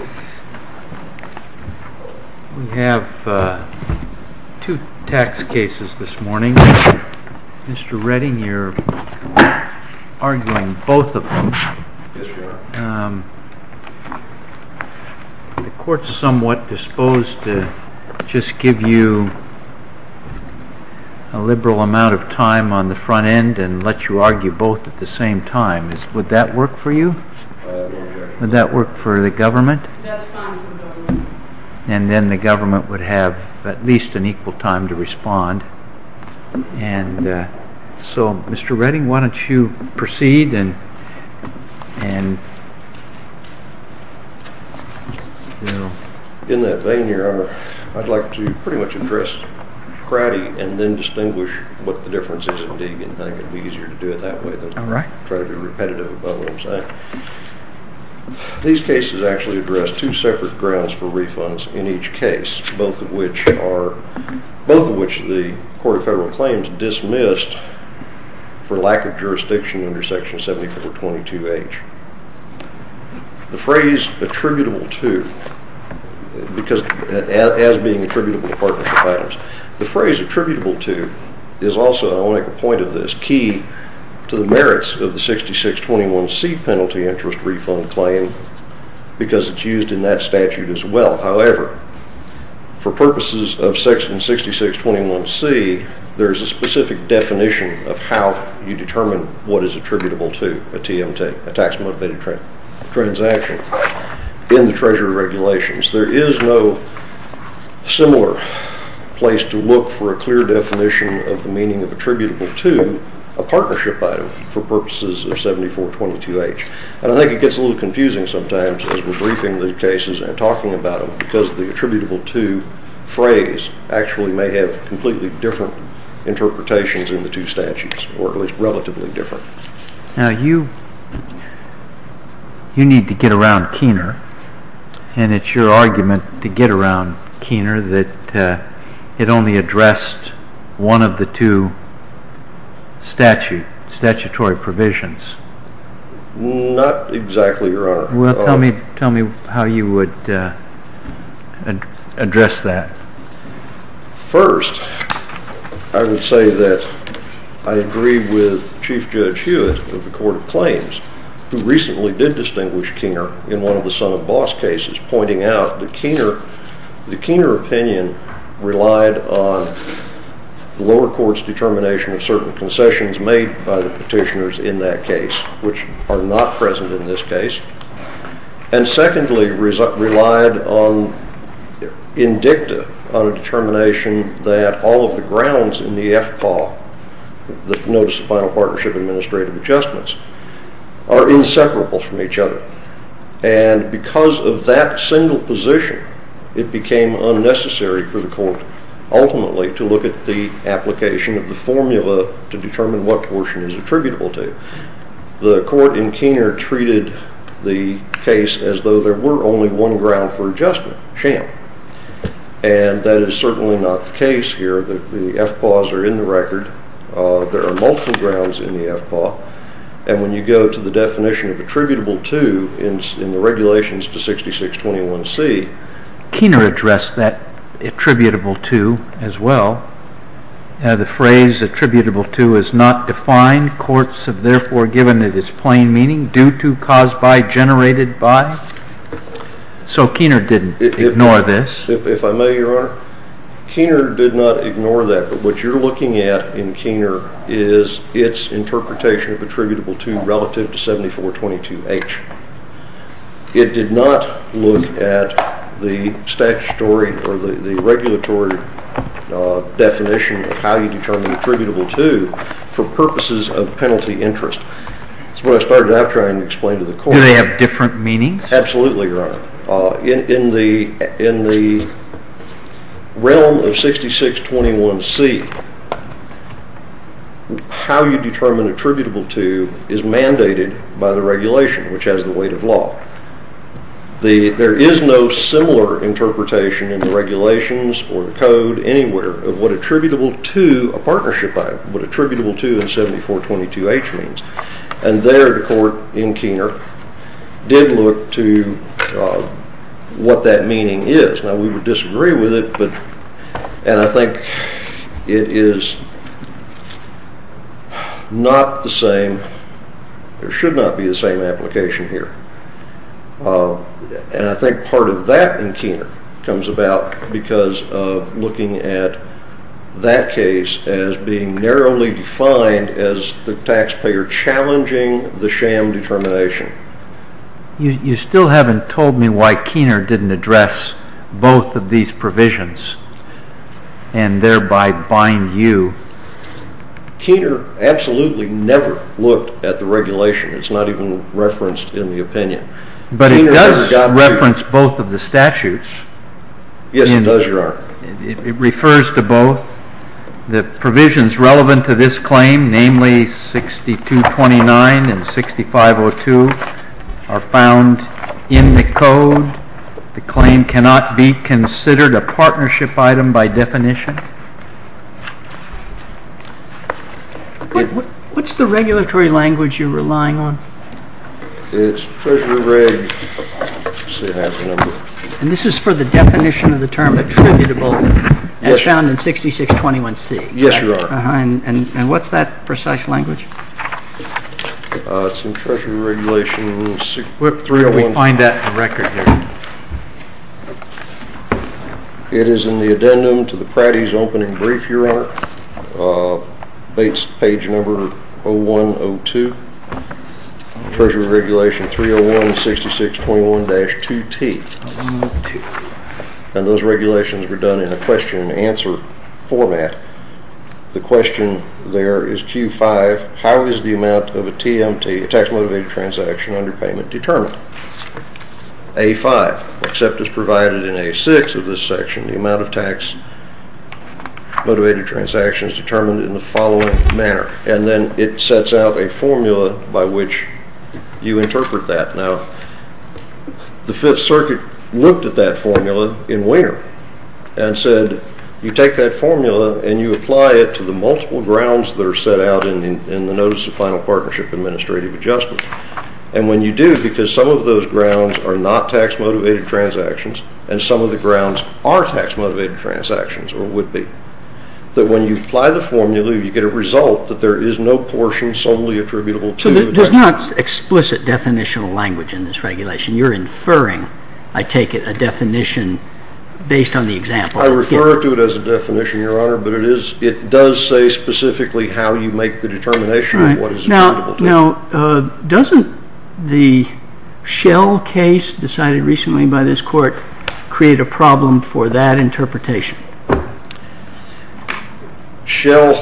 We have two tax cases this morning. Mr. Redding, you are arguing both of them. The court is somewhat disposed to just give you a liberal amount of time on the front end and let you respond. And then the government would have at least an equal time to respond. So Mr. Redding, why don't you proceed. In that vein here, I would like to pretty much address Cradie and then distinguish what the difference is at Deegan. I think it would be easier to These cases actually address two separate grounds for refunds in each case, both of which the Court of Federal Claims dismissed for lack of jurisdiction under Section 7422H. The phrase attributable to, because as being attributable to partnership items, the phrase attributable to is also, I want to make a point of this, key to the merits of the 6621C penalty interest refund claim because it's used in that statute as well. However, for purposes of Section 6621C, there's a specific definition of how you determine what is attributable to a TMT, a tax motivated transaction, in the There is no similar place to look for a clear definition of the meaning of attributable to a partnership item for purposes of 7422H. And I think it gets a little confusing sometimes as we're briefing the cases and talking about them because the attributable to phrase actually may have completely different interpretations in the two statutes, or at least relatively different. Now you need to get around Kiener, and it's your argument to get around Kiener that it only addressed one of the two statute, statutory provisions. Not exactly, Your Honor. Well, tell me how you would address that. First, I would say that I agree with Chief Judge Hewitt of the Court of Claims, who recently did distinguish Kiener in one of the Son of Boss cases, pointing out that the Kiener opinion relied on the lower court's determination of certain concessions made by the petitioners in that case, which are not present in this case. And secondly, relied on dicta on a determination that all of the grounds in the FPAW, the Notice of Final Partnership Administrative Adjustments, are inseparable from each other. And because of that single position, it became unnecessary for the court ultimately to look at the application of the formula to determine what portion is attributable to. The court in Kiener treated the case as though there were only one ground for adjustment, sham. And that is certainly not the case here. The FPAWs are in the record. There are multiple grounds in the FPAW. And when you go to the definition of attributable to in the regulations to 6621C, Kiener addressed that attributable to as well. The phrase attributable to is not defined. Courts have therefore given it its plain meaning, due to, caused by, generated by. So Kiener didn't ignore this. If I may, Your Honor, Kiener did not ignore that. But what you're looking at in Kiener is its interpretation of attributable to relative to 7422H. It did not look at the statutory or the regulatory definition of how you determine attributable to for purposes of penalty interest. That's what I started out trying to explain to the court. Do they have different meanings? Absolutely, Your Honor. In the realm of 6621C, how you determine attributable to is mandated by the regulation, which has the weight of law. There is no similar interpretation in the regulations or the code anywhere of what attributable to a 7422H means. And there the court in Kiener did look to what that meaning is. Now we would disagree with it, and I think it is not the same. There should not be the same application here. And I think part of that in Kiener comes about because of looking at that case as being narrowly defined as the taxpayer challenging the sham determination. You still haven't told me why Kiener didn't address both of these provisions and thereby bind you. Kiener absolutely never looked at the regulation. It's not even referenced in the opinion. But it does reference both of the statutes. Yes, it does, Your Honor. It refers to both. The provisions relevant to this claim, namely 6229 and 6502, are found in the code. The claim cannot be considered a partnership item by definition. What's the regulatory language you're relying on? It's Treasury Reg. And this is for the definition of the term attributable as found in 6621C? Yes, Your Honor. And what's that precise language? It's in Treasury Regulation 621C. Can we find that record here? It is in the addendum to the Pratties' opening brief, Your Honor, page number 0102, Treasury Regulation 301 and 6621C. And those regulations were done in a question-and-answer format. The question there is Q5, how is the amount of a TMT, a tax-motivated transaction, under payment determined? A5, except as provided in A6 of this section, the amount of tax-motivated transactions determined in the following manner. And then it sets out a formula by which you interpret that. Now, the Fifth Circuit looked at that formula in Wiener and said, you take that formula and you apply it to the multiple grounds that are set out in the Notice of Final Partnership Administrative Adjustment. And when you do, because some of those grounds are not tax-motivated transactions, and some of the grounds are tax-motivated transactions, or would be, that when you apply the formula, you get a result that there is no portion solely attributable to the transaction. There's not explicit definitional language in this regulation. You're inferring, I take it, a definition based on the example. I refer to it as a definition, Your Honor, but it does say specifically how you make the determination of what is attributable to you. Now, doesn't the Schell case decided recently by this Court create a problem for that interpretation? Schell,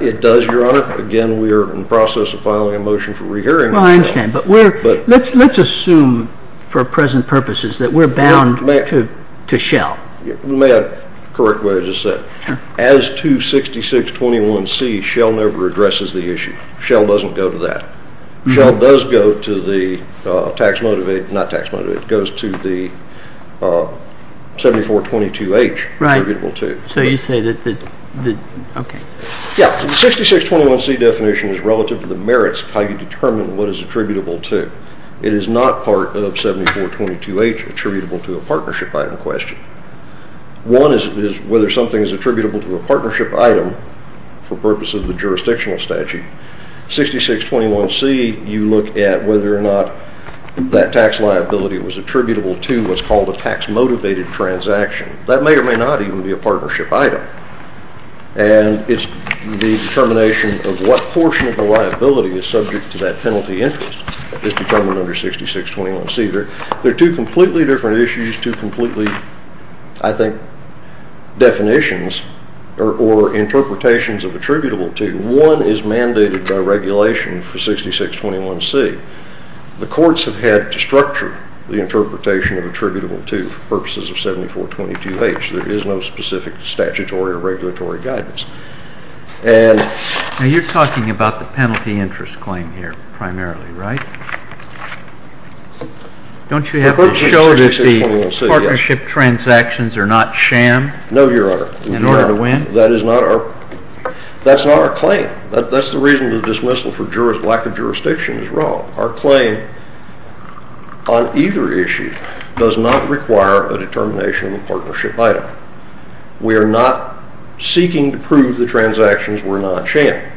it does, Your Honor. Again, we are in the process of filing a motion for re-hearing. Well, I understand, but let's assume for present purposes that we're bound to Schell. You may have corrected what I just said. As 26621C, Schell never addresses the issue. Schell doesn't go to that. Schell does go to the tax-motivated, not tax-motivated, it goes to the 7422H attributable to. So you say that, okay. Yeah, the 6621C definition is relative to the merits of how you determine what is attributable to. It is not part of 7422H attributable to a partnership item question. One is whether something is attributable to a partnership item for purposes of the jurisdictional statute. 6621C, you look at whether or not that tax liability was attributable to what's called a tax-motivated transaction. That may or may not even be a partnership item. And it's the determination of what portion of the liability is subject to that penalty interest that's determined under 6621C. They're two completely different issues, two completely, I think, definitions or interpretations of attributable to. One is mandated by regulation for 6621C. The courts have had to structure the interpretation of attributable to for purposes of 7422H. There is no specific statutory or regulatory guidance. Now you're talking about the penalty interest claim here primarily, right? Don't you have to show that the partnership transactions are not sham in order to win? That's not our claim. That's the reason the dismissal for lack of jurisdiction is wrong. Our claim on either issue does not require a determination of a partnership item. We are not seeking to prove the transactions were not sham.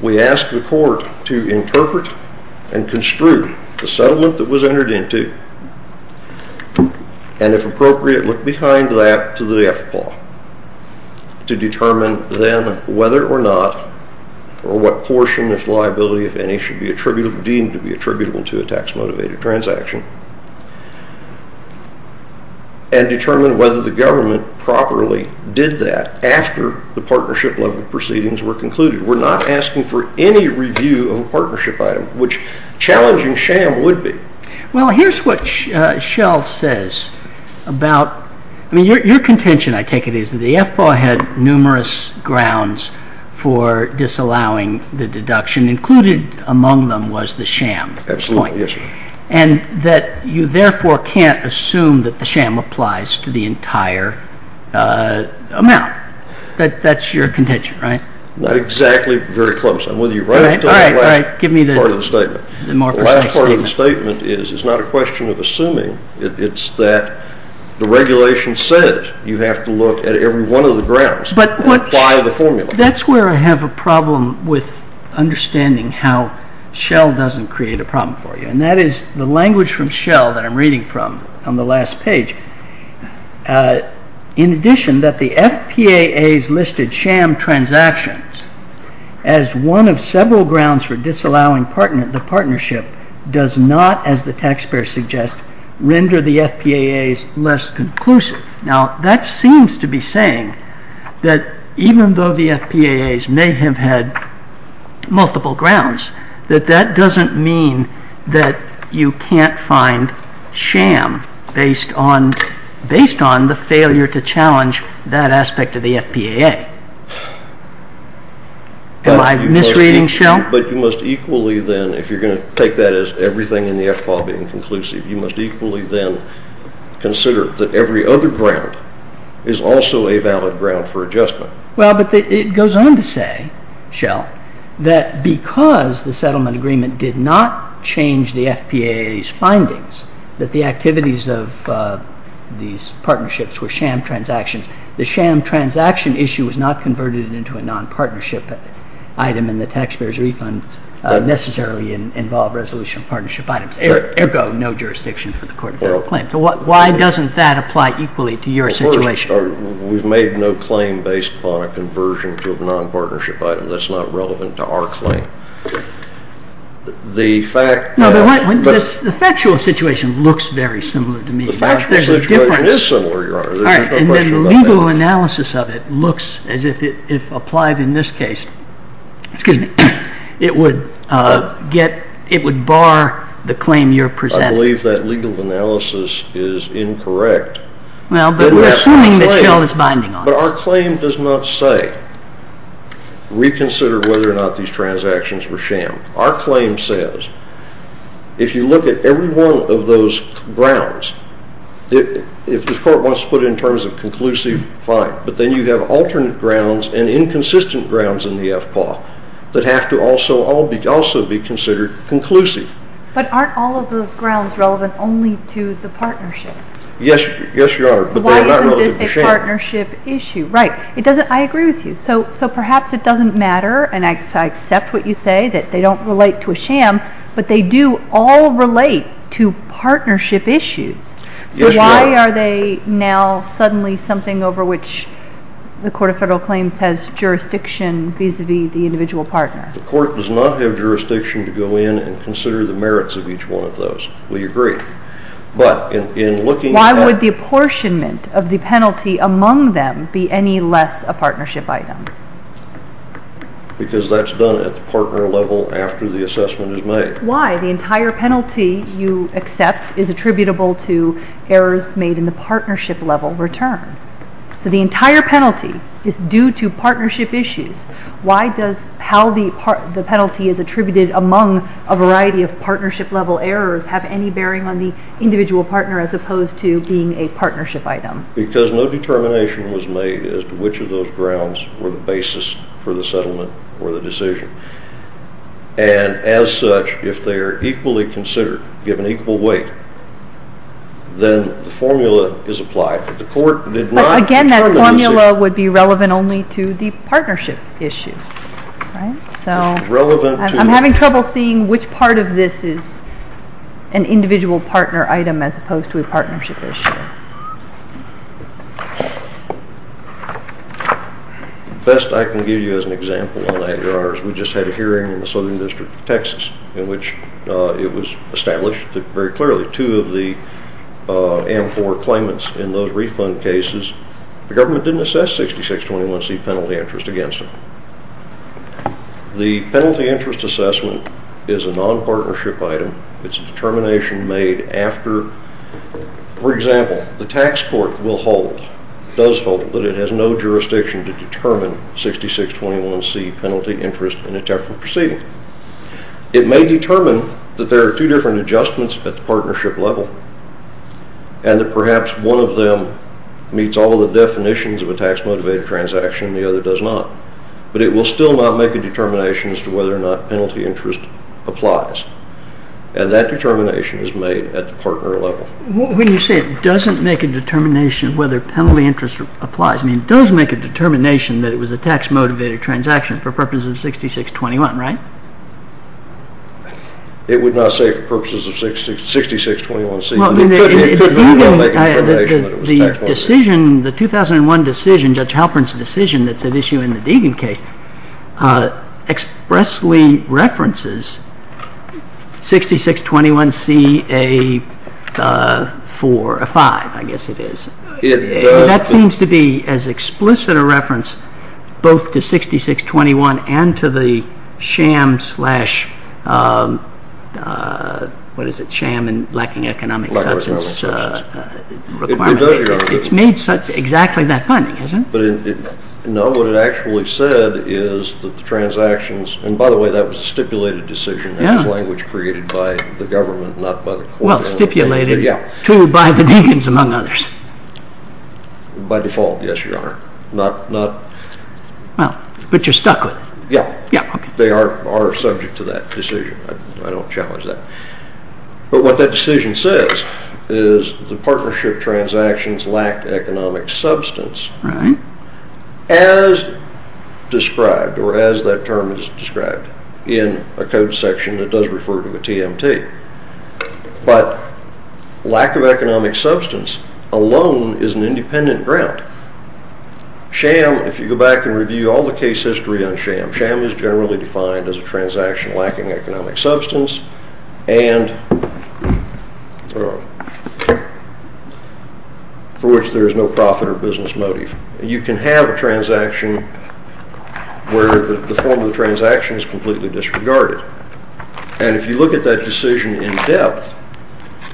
We ask the court to interpret and construe the settlement that was entered into, and if appropriate, look behind that to the death paw, to determine then whether or not or what portion of liability, if any, should be deemed to be attributable to a tax-motivated transaction, and determine whether the government properly did that after the partnership level proceedings were concluded. We're not asking for any review of a partnership item, which challenging sham would be. Well, here's what Shell says about... I mean, your contention, I take it, is that the death paw had numerous grounds for disallowing the deduction. Included among them was the sham point. Absolutely, yes. And that you therefore can't assume that the sham applies to the entire amount. That's your contention, right? Not exactly very close. I'm with you right up to the last part of the statement. The last part of the statement is it's not a question of assuming. It's that the regulation says you have to look at every one of the grounds and apply the formula. That's where I have a problem with understanding how Shell doesn't create a problem for you, and that is the language from Shell that I'm reading from on the last page. In addition, that the FPAAs listed sham transactions as one of several grounds for disallowing the partnership does not, as the taxpayer suggests, render the FPAAs less conclusive. Now, that seems to be saying that even though the FPAAs may have had multiple grounds, that that doesn't mean that you can't find sham based on the failure to challenge that aspect of the FPAA. Am I misreading, Shell? But you must equally then, if you're going to take that as everything in the FPAA being conclusive, you must equally then consider that every other ground is also a valid ground for adjustment. Well, but it goes on to say, Shell, that because the settlement agreement did not change the FPAA's findings, that the activities of these partnerships were sham transactions, the sham transaction issue was not converted into a non-partnership item, and the taxpayer's refund necessarily involved resolution of partnership items. Ergo, no jurisdiction for the court to file a claim. So why doesn't that apply equally to your situation? We've made no claim based upon a conversion to a non-partnership item. That's not relevant to our claim. No, but the factual situation looks very similar to me. The factual situation is similar, Your Honor. There's no question about that. And then the legal analysis of it looks as if, if applied in this case, it would bar the claim you're presenting. I believe that legal analysis is incorrect. Well, but we're assuming that Shell is binding on it. But our claim does not say, reconsider whether or not these transactions were sham. Our claim says, if you look at every one of those grounds, if the court wants to put it in terms of conclusive, fine. But then you have alternate grounds and inconsistent grounds in the FPAA that have to also be considered conclusive. But aren't all of those grounds relevant only to the partnership? Yes, Your Honor. Why isn't this a partnership issue? Right. I agree with you. So perhaps it doesn't matter, and I accept what you say, that they don't relate to a sham, but they do all relate to partnership issues. Yes, Your Honor. So why are they now suddenly something over which the Court of Federal Claims has jurisdiction vis-à-vis the individual partner? The court does not have jurisdiction to go in and consider the merits of each one of those. We agree. Why would the apportionment of the penalty among them be any less a partnership item? Because that's done at the partner level after the assessment is made. Why? The entire penalty you accept is attributable to errors made in the partnership level return. So the entire penalty is due to partnership issues. Why does how the penalty is attributed among a variety of partnership level errors have any bearing on the individual partner as opposed to being a partnership item? Because no determination was made as to which of those grounds were the basis for the settlement or the decision. And as such, if they are equally considered, given equal weight, then the formula is applied. Again, that formula would be relevant only to the partnership issue. I'm having trouble seeing which part of this is an individual partner item as opposed to a partnership issue. Best I can give you as an example on that, Your Honors. We just had a hearing in the Southern District of Texas in which it was established very clearly. Two of the AMPOR claimants in those refund cases, the government didn't assess 6621C penalty interest against them. The penalty interest assessment is a non-partnership item. It's a determination made after, for example, the tax court will hold, does hold, that it has no jurisdiction to determine 6621C penalty interest in a temporary proceeding. It may determine that there are two different adjustments at the partnership level and that perhaps one of them meets all of the definitions of a tax-motivated transaction and the other does not. But it will still not make a determination as to whether or not penalty interest applies. And that determination is made at the partner level. When you say it doesn't make a determination whether penalty interest applies, I mean, it does make a determination that it was a tax-motivated transaction for purposes of 6621, right? It would not say for purposes of 6621C. Well, it could even make a determination that it was a tax-motivated transaction. The decision, the 2001 decision, Judge Halpern's decision that's at issue in the Deegan case, expressly references 6621CA for a 5, I guess it is. That seems to be as explicit a reference both to 6621 and to the sham slash, what is it, sham and lacking economic substance requirement. It's made exactly that funny, isn't it? No, what it actually said is that the transactions, and by the way, that was a stipulated decision. That was language created by the government, not by the court. It was stipulated to by the Deegans among others. By default, yes, Your Honor. Well, but you're stuck with it. Yeah. They are subject to that decision. I don't challenge that. But what that decision says is the partnership transactions lacked economic substance. Right. As described or as that term is described in a code section that does refer to a TMT. But lack of economic substance alone is an independent ground. Sham, if you go back and review all the case history on sham, sham is generally defined as a transaction lacking economic substance and for which there is no profit or business motive. You can have a transaction where the form of the transaction is completely disregarded. And if you look at that decision in depth,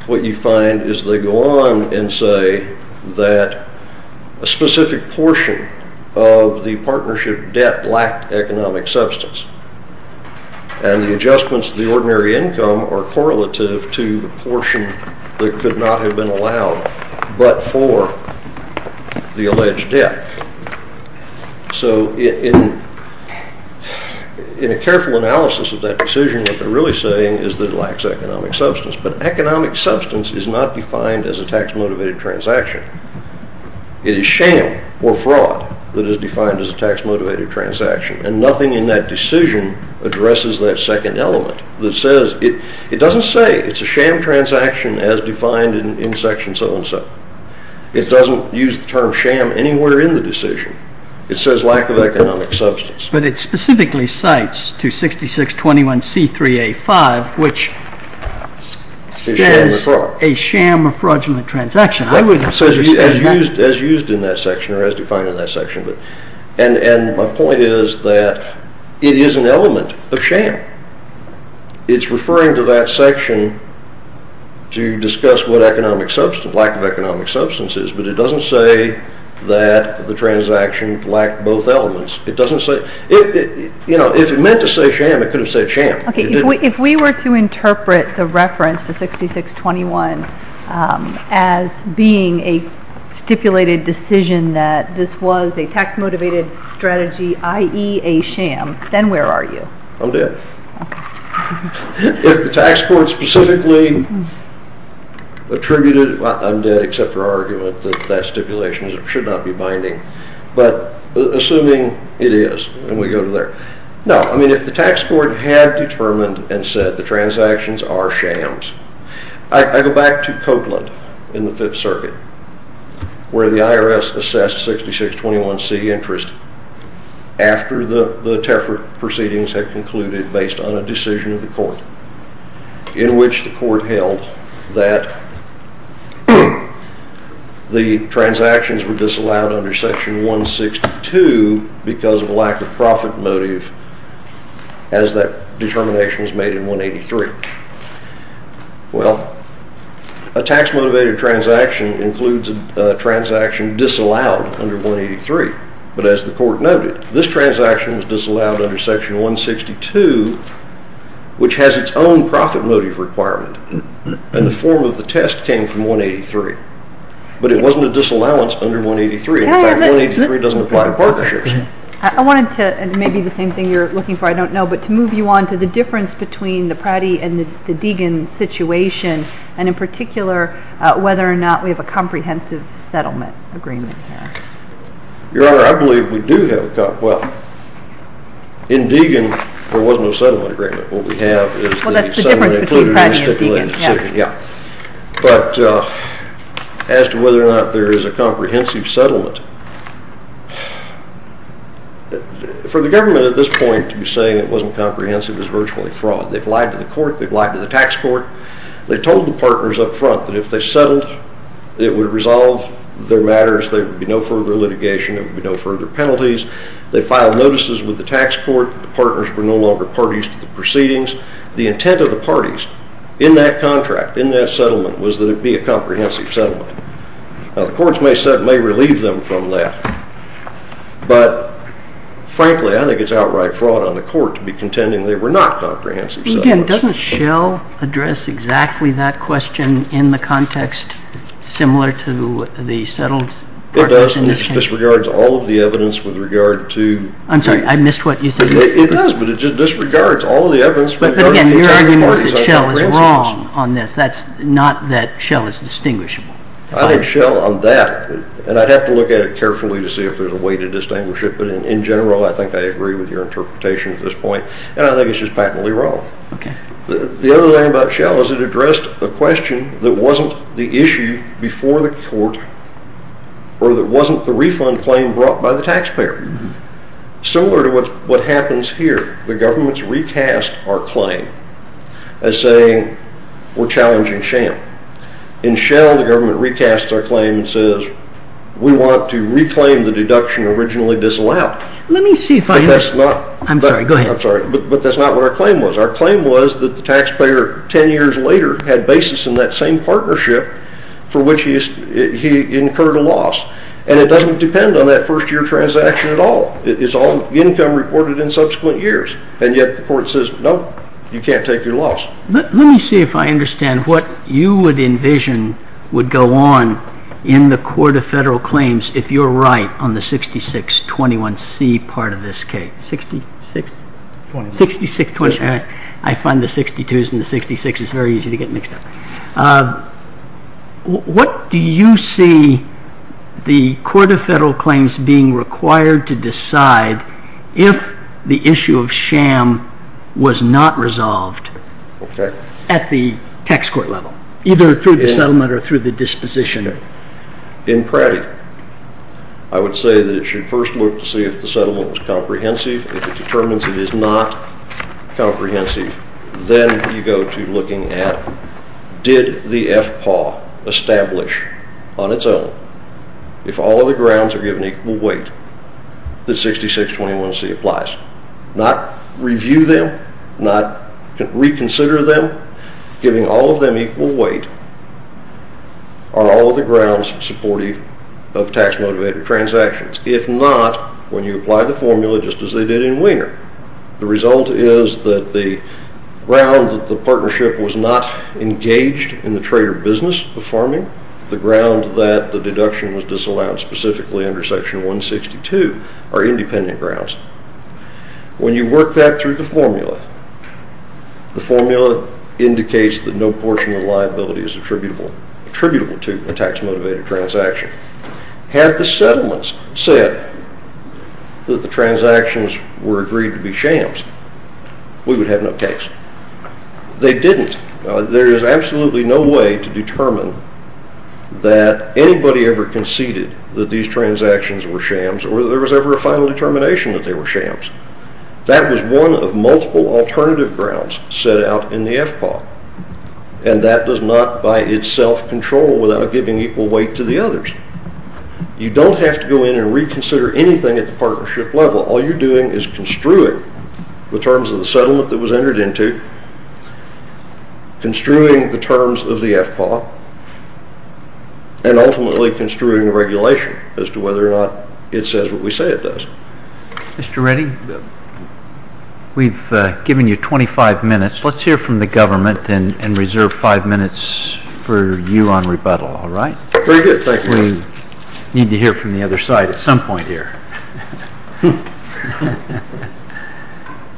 what you find is they go on and say that a specific portion of the partnership debt lacked economic substance. And the adjustments to the ordinary income are correlative to the portion that could not have been allowed but for the alleged debt. So in a careful analysis of that decision, what they're really saying is that it lacks economic substance. But economic substance is not defined as a tax-motivated transaction. It is sham or fraud that is defined as a tax-motivated transaction. And nothing in that decision addresses that second element that says it doesn't say it's a sham transaction as defined in section so-and-so. It doesn't use the term sham anywhere in the decision. It says lack of economic substance. But it specifically cites 26621C3A5 which says a sham or fraudulent transaction. As used in that section or as defined in that section. And my point is that it is an element of sham. It's referring to that section to discuss what economic substance, lack of economic substance is. But it doesn't say that the transaction lacked both elements. It doesn't say, you know, if it meant to say sham, it could have said sham. If we were to interpret the reference to 6621 as being a stipulated decision that this was a tax-motivated strategy, i.e. a sham, then where are you? I'm dead. If the tax court specifically attributed, I'm dead except for our argument that that stipulation should not be binding. But assuming it is and we go to there. No, I mean if the tax court had determined and said the transactions are shams. I go back to Copeland in the Fifth Circuit where the IRS assessed 6621C interest after the TEFR proceedings had concluded based on a decision of the court. In which the court held that the transactions were disallowed under section 162 because of lack of profit motive as that determination was made in 183. Well, a tax-motivated transaction includes a transaction disallowed under 183. But as the court noted, this transaction was disallowed under section 162 which has its own profit motive requirement. And the form of the test came from 183. But it wasn't a disallowance under 183. In fact, 183 doesn't apply to partnerships. I wanted to, and maybe the same thing you're looking for, I don't know. But to move you on to the difference between the Pratty and the Deegan situation. And in particular, whether or not we have a comprehensive settlement agreement here. Your Honor, I believe we do have a, well, in Deegan there was no settlement agreement. What we have is the settlement included in the stipulated decision. Well, that's the difference between Pratty and Deegan, yes. For the government at this point to be saying it wasn't comprehensive is virtually fraud. They've lied to the court. They've lied to the tax court. They told the partners up front that if they settled, it would resolve their matters. There would be no further litigation. There would be no further penalties. They filed notices with the tax court. The partners were no longer parties to the proceedings. The intent of the parties in that contract, in that settlement, was that it be a comprehensive settlement. Now, the courts may set, may relieve them from that. But, frankly, I think it's outright fraud on the court to be contending they were not comprehensive settlements. But, again, doesn't Schell address exactly that question in the context similar to the settled partners in this case? It does, and it just disregards all of the evidence with regard to I'm sorry, I missed what you said. It does, but it just disregards all of the evidence with regard to the entire parties. But, again, your argument was that Schell is wrong on this. That's not that Schell is distinguishable. I think Schell on that, and I'd have to look at it carefully to see if there's a way to distinguish it. But, in general, I think I agree with your interpretation at this point, and I think it's just patently wrong. Okay. The other thing about Schell is it addressed a question that wasn't the issue before the court or that wasn't the refund claim brought by the taxpayer. Similar to what happens here. The government's recast our claim as saying we're challenging Schell. In Schell, the government recasts our claim and says we want to reclaim the deduction originally disallowed. Let me see if I understand. I'm sorry, go ahead. I'm sorry, but that's not what our claim was. Our claim was that the taxpayer 10 years later had basis in that same partnership for which he incurred a loss. And it doesn't depend on that first-year transaction at all. It's all income reported in subsequent years. And yet the court says, nope, you can't take your loss. Let me see if I understand what you would envision would go on in the Court of Federal Claims if you're right on the 6621C part of this case. 66? 26. 6621C. I find the 62s and the 66s very easy to get mixed up. What do you see the Court of Federal Claims being required to decide if the issue of sham was not resolved at the tax court level, either through the settlement or through the disposition? In practice, I would say that it should first look to see if the settlement was comprehensive. If it determines it is not comprehensive, then you go to looking at did the FPAW establish on its own, if all of the grounds are given equal weight, that 6621C applies. Not review them, not reconsider them, giving all of them equal weight on all of the grounds supportive of tax-motivated transactions. If not, when you apply the formula just as they did in Wiener, the result is that the ground that the partnership was not engaged in the trade or business performing, the ground that the deduction was disallowed specifically under Section 162 are independent grounds. When you work that through the formula, the formula indicates that no portion of the liability is attributable to a tax-motivated transaction. Had the settlements said that the transactions were agreed to be shams, we would have no case. They didn't. There is absolutely no way to determine that anybody ever conceded that these transactions were shams or that there was ever a final determination that they were shams. That was one of multiple alternative grounds set out in the FPAW, and that does not by itself control without giving equal weight to the others. You don't have to go in and reconsider anything at the partnership level. All you're doing is construing the terms of the settlement that was entered into, construing the terms of the FPAW, and ultimately construing the regulation as to whether or not it says what we say it does. Mr. Reddy, we've given you 25 minutes. Let's hear from the government and reserve five minutes for you on rebuttal, all right? Very good. We need to hear from the other side at some point here.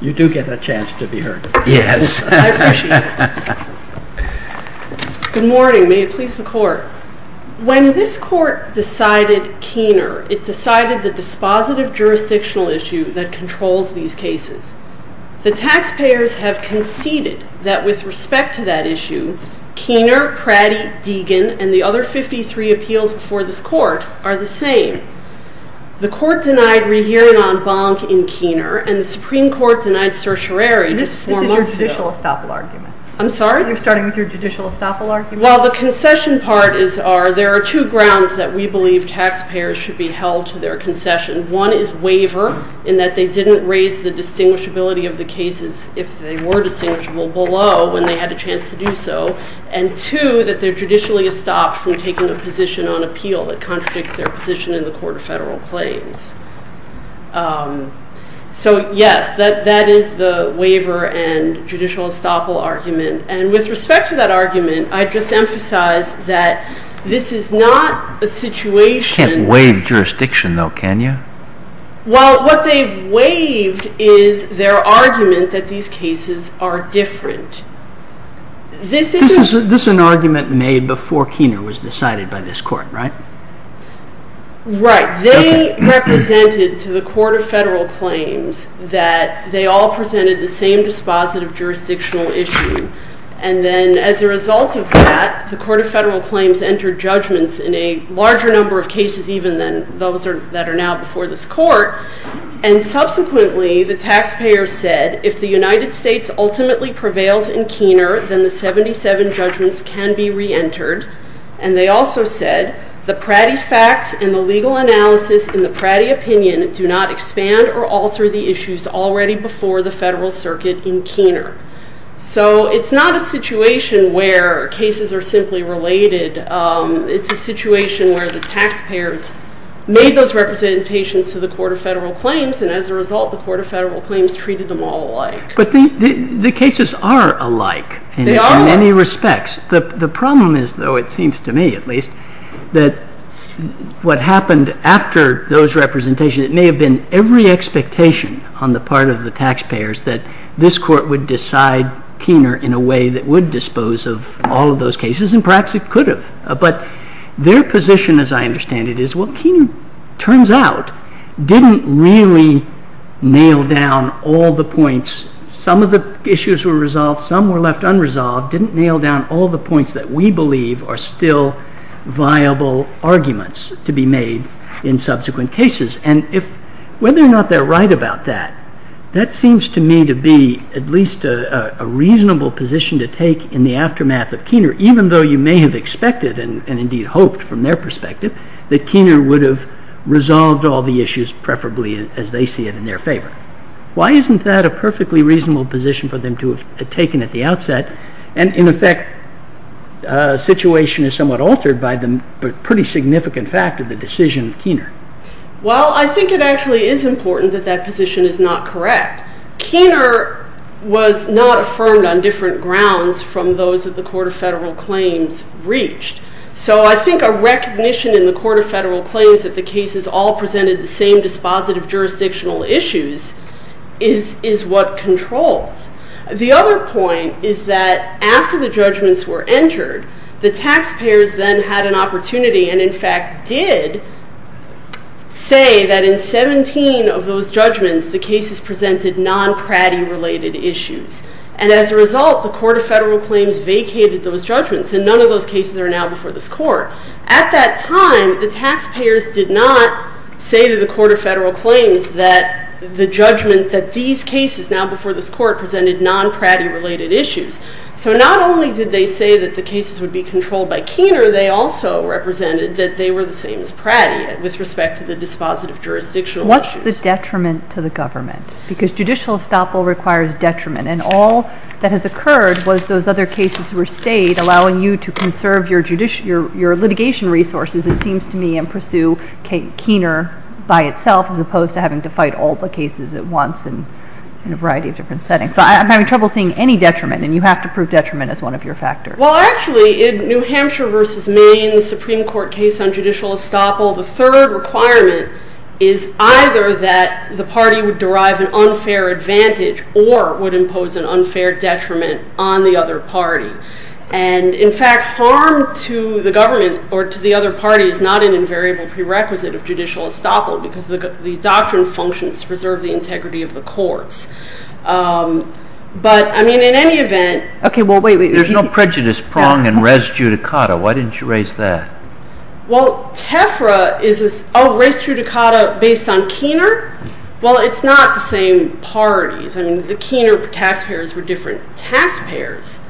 You do get a chance to be heard. Yes. Good morning. May it please the Court. When this Court decided Keener, it decided the dispositive jurisdictional issue that controls these cases. The taxpayers have conceded that with respect to that issue, Keener, Pratty, Deegan, and the other 53 appeals before this Court are the same. The Court denied rehearing on Bonk in Keener, and the Supreme Court denied certiorari just four months ago. This is your judicial estoppel argument. I'm sorry? You're starting with your judicial estoppel argument. Well, the concession part is there are two grounds that we believe taxpayers should be held to their concession. One is waiver in that they didn't raise the distinguishability of the cases, if they were distinguishable, below when they had a chance to do so. And two, that they're judicially estopped from taking a position on appeal that contradicts their position in the Court of Federal Claims. So, yes, that is the waiver and judicial estoppel argument. And with respect to that argument, I'd just emphasize that this is not a situation. You can't waive jurisdiction, though, can you? Well, what they've waived is their argument that these cases are different. This is an argument made before Keener was decided by this Court, right? Right. They represented to the Court of Federal Claims that they all presented the same dispositive jurisdictional issue. And then as a result of that, the Court of Federal Claims entered judgments in a larger number of cases, even than those that are now before this Court. And subsequently, the taxpayers said if the United States ultimately prevails in Keener, then the 77 judgments can be reentered. And they also said the Pratty's facts and the legal analysis in the Pratty opinion do not expand or alter the issues already before the Federal Circuit in Keener. So it's not a situation where cases are simply related. It's a situation where the taxpayers made those representations to the Court of Federal Claims, and as a result, the Court of Federal Claims treated them all alike. But the cases are alike in many respects. They are alike. The problem is, though, it seems to me at least, that what happened after those representations, it may have been every expectation on the part of the taxpayers that this Court would decide Keener in a way that would dispose of all of those cases, and perhaps it could have. But their position, as I understand it, is, well, Keener, turns out, didn't really nail down all the points. Some of the issues were resolved. Some were left unresolved, didn't nail down all the points that we believe are still viable arguments to be made in subsequent cases. And whether or not they're right about that, that seems to me to be at least a reasonable position to take in the aftermath of Keener, even though you may have expected and indeed hoped from their perspective that Keener would have resolved all the issues, preferably as they see it, in their favor. Why isn't that a perfectly reasonable position for them to have taken at the outset, and, in effect, the situation is somewhat altered by the pretty significant fact of the decision of Keener? Well, I think it actually is important that that position is not correct. Keener was not affirmed on different grounds from those that the Court of Federal Claims reached. So I think a recognition in the Court of Federal Claims that the cases all presented the same dispositive jurisdictional issues is what controls. The other point is that after the judgments were entered, the taxpayers then had an opportunity and, in fact, did say that in 17 of those judgments, the cases presented non-Pratty-related issues. And as a result, the Court of Federal Claims vacated those judgments, and none of those cases are now before this court. At that time, the taxpayers did not say to the Court of Federal Claims that the judgment that these cases now before this court presented non-Pratty-related issues. So not only did they say that the cases would be controlled by Keener, they also represented that they were the same as Pratty with respect to the dispositive jurisdictional issues. What's the detriment to the government? Because judicial estoppel requires detriment. And all that has occurred was those other cases were stayed, allowing you to conserve your litigation resources, it seems to me, and pursue Keener by itself as opposed to having to fight all the cases at once in a variety of different settings. So I'm having trouble seeing any detriment, and you have to prove detriment as one of your factors. Well, actually, in New Hampshire v. Maine, the Supreme Court case on judicial estoppel, the third requirement is either that the party would derive an unfair advantage or would impose an unfair detriment on the other party. And, in fact, harm to the government or to the other party is not an invariable prerequisite of judicial estoppel because the doctrine functions to preserve the integrity of the courts. But, I mean, in any event... Okay, well, wait, wait. There's no prejudice prong in res judicata. Why didn't you raise that? Well, TEFRA is... Oh, res judicata based on Keener? Well, it's not the same parties. I mean, the Keener taxpayers were different taxpayers.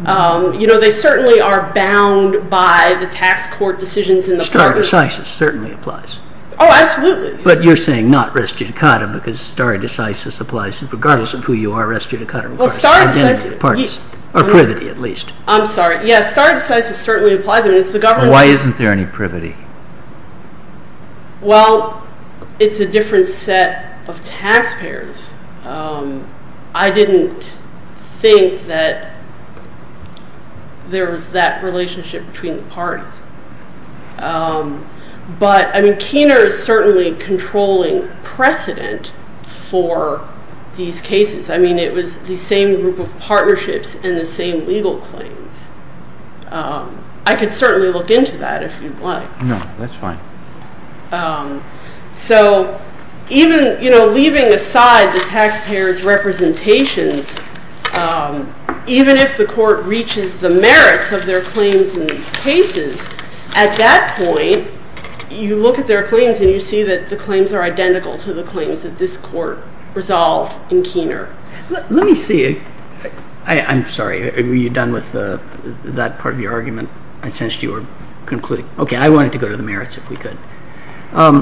You know, they certainly are bound by the tax court decisions in the parties. Stare decisis certainly applies. Oh, absolutely. But you're saying not res judicata because stare decisis applies regardless of who you are. Res judicata requires identity of parties, or privity at least. I'm sorry. Yes, stare decisis certainly applies. Why isn't there any privity? Well, it's a different set of taxpayers. I didn't think that there was that relationship between the parties. But, I mean, Keener is certainly controlling precedent for these cases. I mean, it was the same group of partnerships and the same legal claims. I could certainly look into that if you'd like. No, that's fine. So even, you know, leaving aside the taxpayers' representations, even if the court reaches the merits of their claims in these cases, at that point you look at their claims and you see that the claims are identical to the claims that this court resolved in Keener. Let me see. I'm sorry. Are you done with that part of your argument? I sensed you were concluding. Okay. I wanted to go to the merits if we could. Let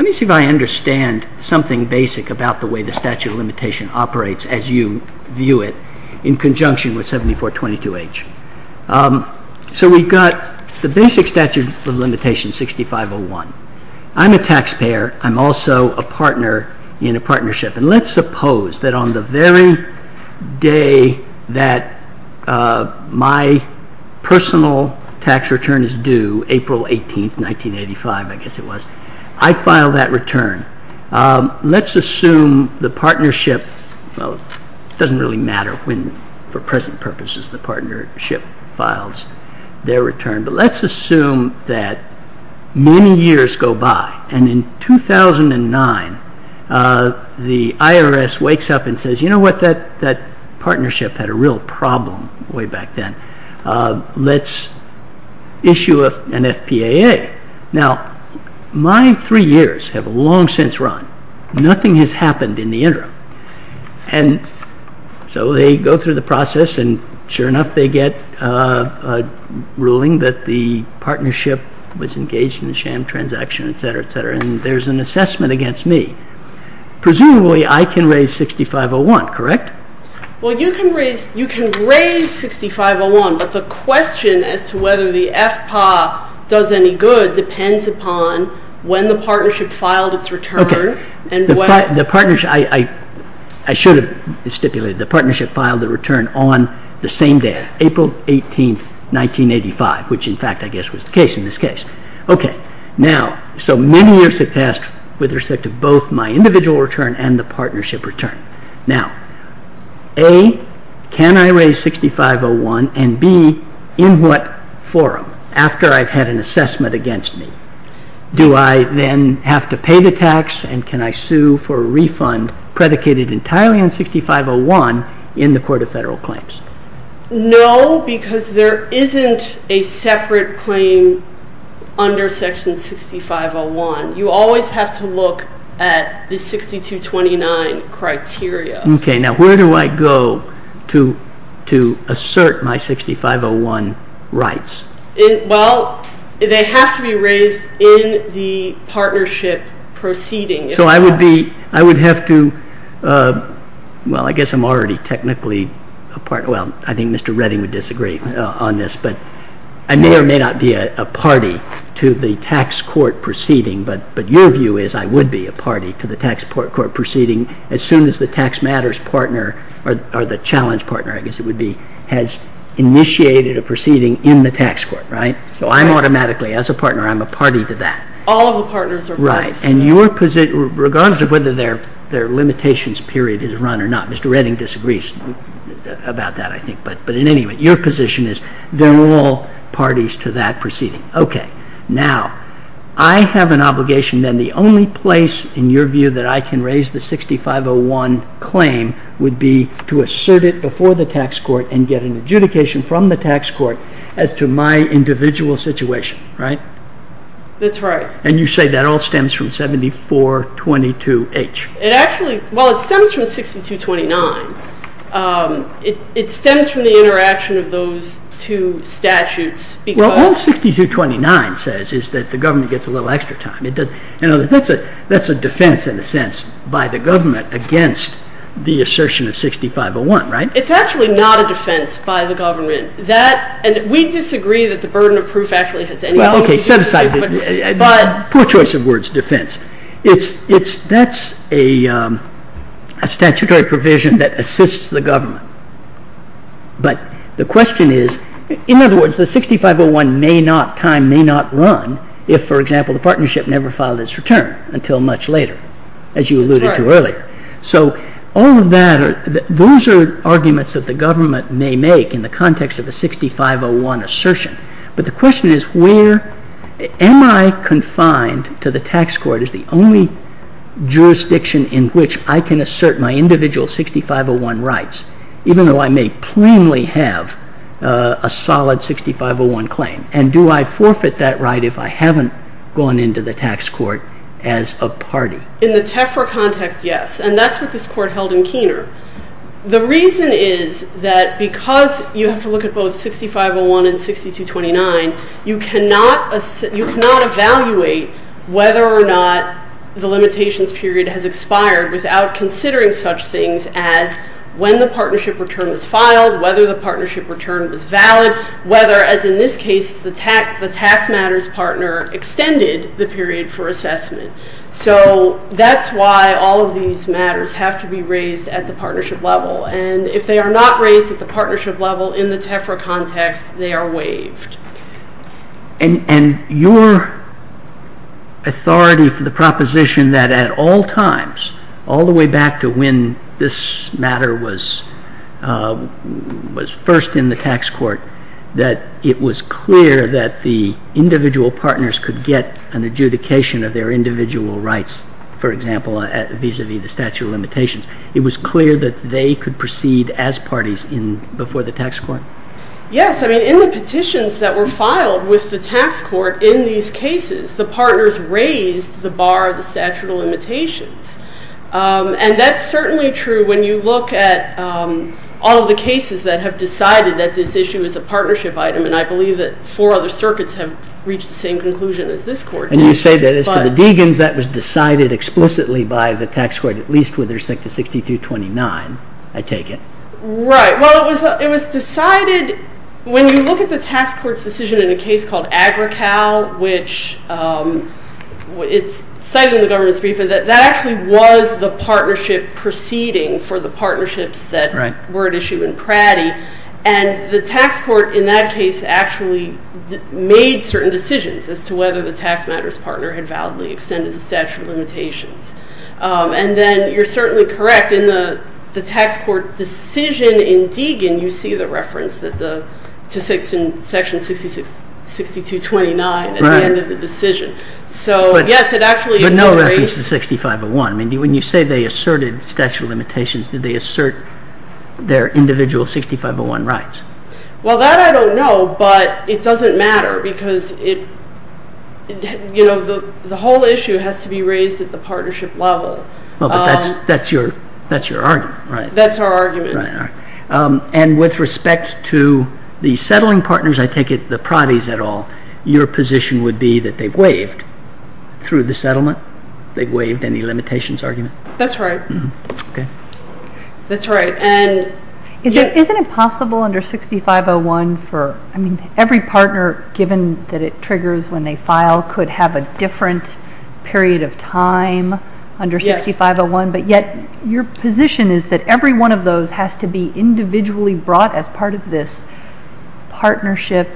me see if I understand something basic about the way the statute of limitation operates as you view it in conjunction with 7422H. So we've got the basic statute of limitation 6501. I'm also a partner in a partnership. And let's suppose that on the very day that my personal tax return is due, April 18, 1985, I guess it was, I file that return. Let's assume the partnership, well, it doesn't really matter when for present purposes the partnership files their return, but let's assume that many years go by. And in 2009, the IRS wakes up and says, you know what, that partnership had a real problem way back then. Let's issue an FPAA. Now, my three years have long since run. Nothing has happened in the interim. And so they go through the process. And sure enough, they get a ruling that the partnership was engaged in the sham transaction, et cetera, et cetera. And there's an assessment against me. Presumably, I can raise 6501, correct? Well, you can raise 6501. But the question as to whether the FPAA does any good depends upon when the partnership filed its return. The partnership, I should have stipulated, the partnership filed the return on the same day, April 18, 1985, which, in fact, I guess was the case in this case. Okay. Now, so many years have passed with respect to both my individual return and the partnership return. Now, A, can I raise 6501? And B, in what forum, after I've had an assessment against me, do I then have to pay the tax and can I sue for a refund predicated entirely on 6501 in the Court of Federal Claims? No, because there isn't a separate claim under Section 6501. You always have to look at the 6229 criteria. Okay. Now, where do I go to assert my 6501 rights? Well, they have to be raised in the partnership proceeding. So I would be, I would have to, well, I guess I'm already technically a partner. Well, I think Mr. Redding would disagree on this. But I may or may not be a party to the tax court proceeding, but your view is I would be a party to the tax court proceeding as soon as the tax matters partner, or the challenge partner, I guess it would be, has initiated a proceeding in the tax court, right? So I'm automatically, as a partner, I'm a party to that. All the partners are parties. Right. And your position, regardless of whether their limitations period is run or not, Mr. Redding disagrees about that, I think. But in any event, your position is they're all parties to that proceeding. Okay. Now, I have an obligation then the only place in your view that I can raise the 6501 claim would be to assert it before the tax court and get an adjudication from the tax court as to my individual situation, right? That's right. And you say that all stems from 7422H. It actually, well, it stems from 6229. It stems from the interaction of those two statutes because All 6229 says is that the government gets a little extra time. That's a defense, in a sense, by the government against the assertion of 6501, right? It's actually not a defense by the government. And we disagree that the burden of proof actually has any element to do with this. Well, okay, set aside the poor choice of words defense. That's a statutory provision that assists the government. But the question is, in other words, the 6501 may not, time may not run if, for example, the partnership never filed its return until much later, as you alluded to earlier. So all of that, those are arguments that the government may make in the context of a 6501 assertion. But the question is where, am I confined to the tax court as the only jurisdiction in which I can assert my individual 6501 rights? Even though I may plainly have a solid 6501 claim. And do I forfeit that right if I haven't gone into the tax court as a party? In the TEFRA context, yes. And that's what this court held in Keener. The reason is that because you have to look at both 6501 and 6229, you cannot evaluate whether or not the limitations period has expired without considering such things as when the partnership return was filed, whether the partnership return was valid, whether, as in this case, the tax matters partner extended the period for assessment. So that's why all of these matters have to be raised at the partnership level. And if they are not raised at the partnership level in the TEFRA context, they are waived. And your authority for the proposition that at all times, all the way back to when this matter was first in the tax court, that it was clear that the individual partners could get an adjudication of their individual rights, for example, vis-a-vis the statute of limitations. It was clear that they could proceed as parties before the tax court? Yes. I mean, in the petitions that were filed with the tax court in these cases, the partners raised the bar of the statute of limitations. And that's certainly true when you look at all of the cases that have decided that this issue is a partnership item. And I believe that four other circuits have reached the same conclusion as this court did. And you say that as to the Degans, that was decided explicitly by the tax court, at least with respect to 6229, I take it? Right. Well, it was decided when you look at the tax court's decision in a case called Agrical, which it's cited in the government's brief, that that actually was the partnership proceeding for the partnerships that were at issue in Pratty. And the tax court in that case actually made certain decisions as to whether the tax matters partner had validly extended the statute of limitations. And then you're certainly correct in the tax court decision in Degan, you see the reference to section 6229 at the end of the decision. So, yes, it actually is raised. But no reference to 6501. I mean, when you say they asserted statute of limitations, did they assert their individual 6501 rights? Well, that I don't know, but it doesn't matter, because the whole issue has to be raised at the partnership level. Well, but that's your argument, right? That's our argument. And with respect to the settling partners, I take it the Pratties at all, your position would be that they waived through the settlement? They waived any limitations argument? That's right. Okay. That's right. Isn't it possible under 6501 for, I mean, every partner, given that it triggers when they file, could have a different period of time under 6501, but yet your position is that every one of those has to be individually brought as part of this partnership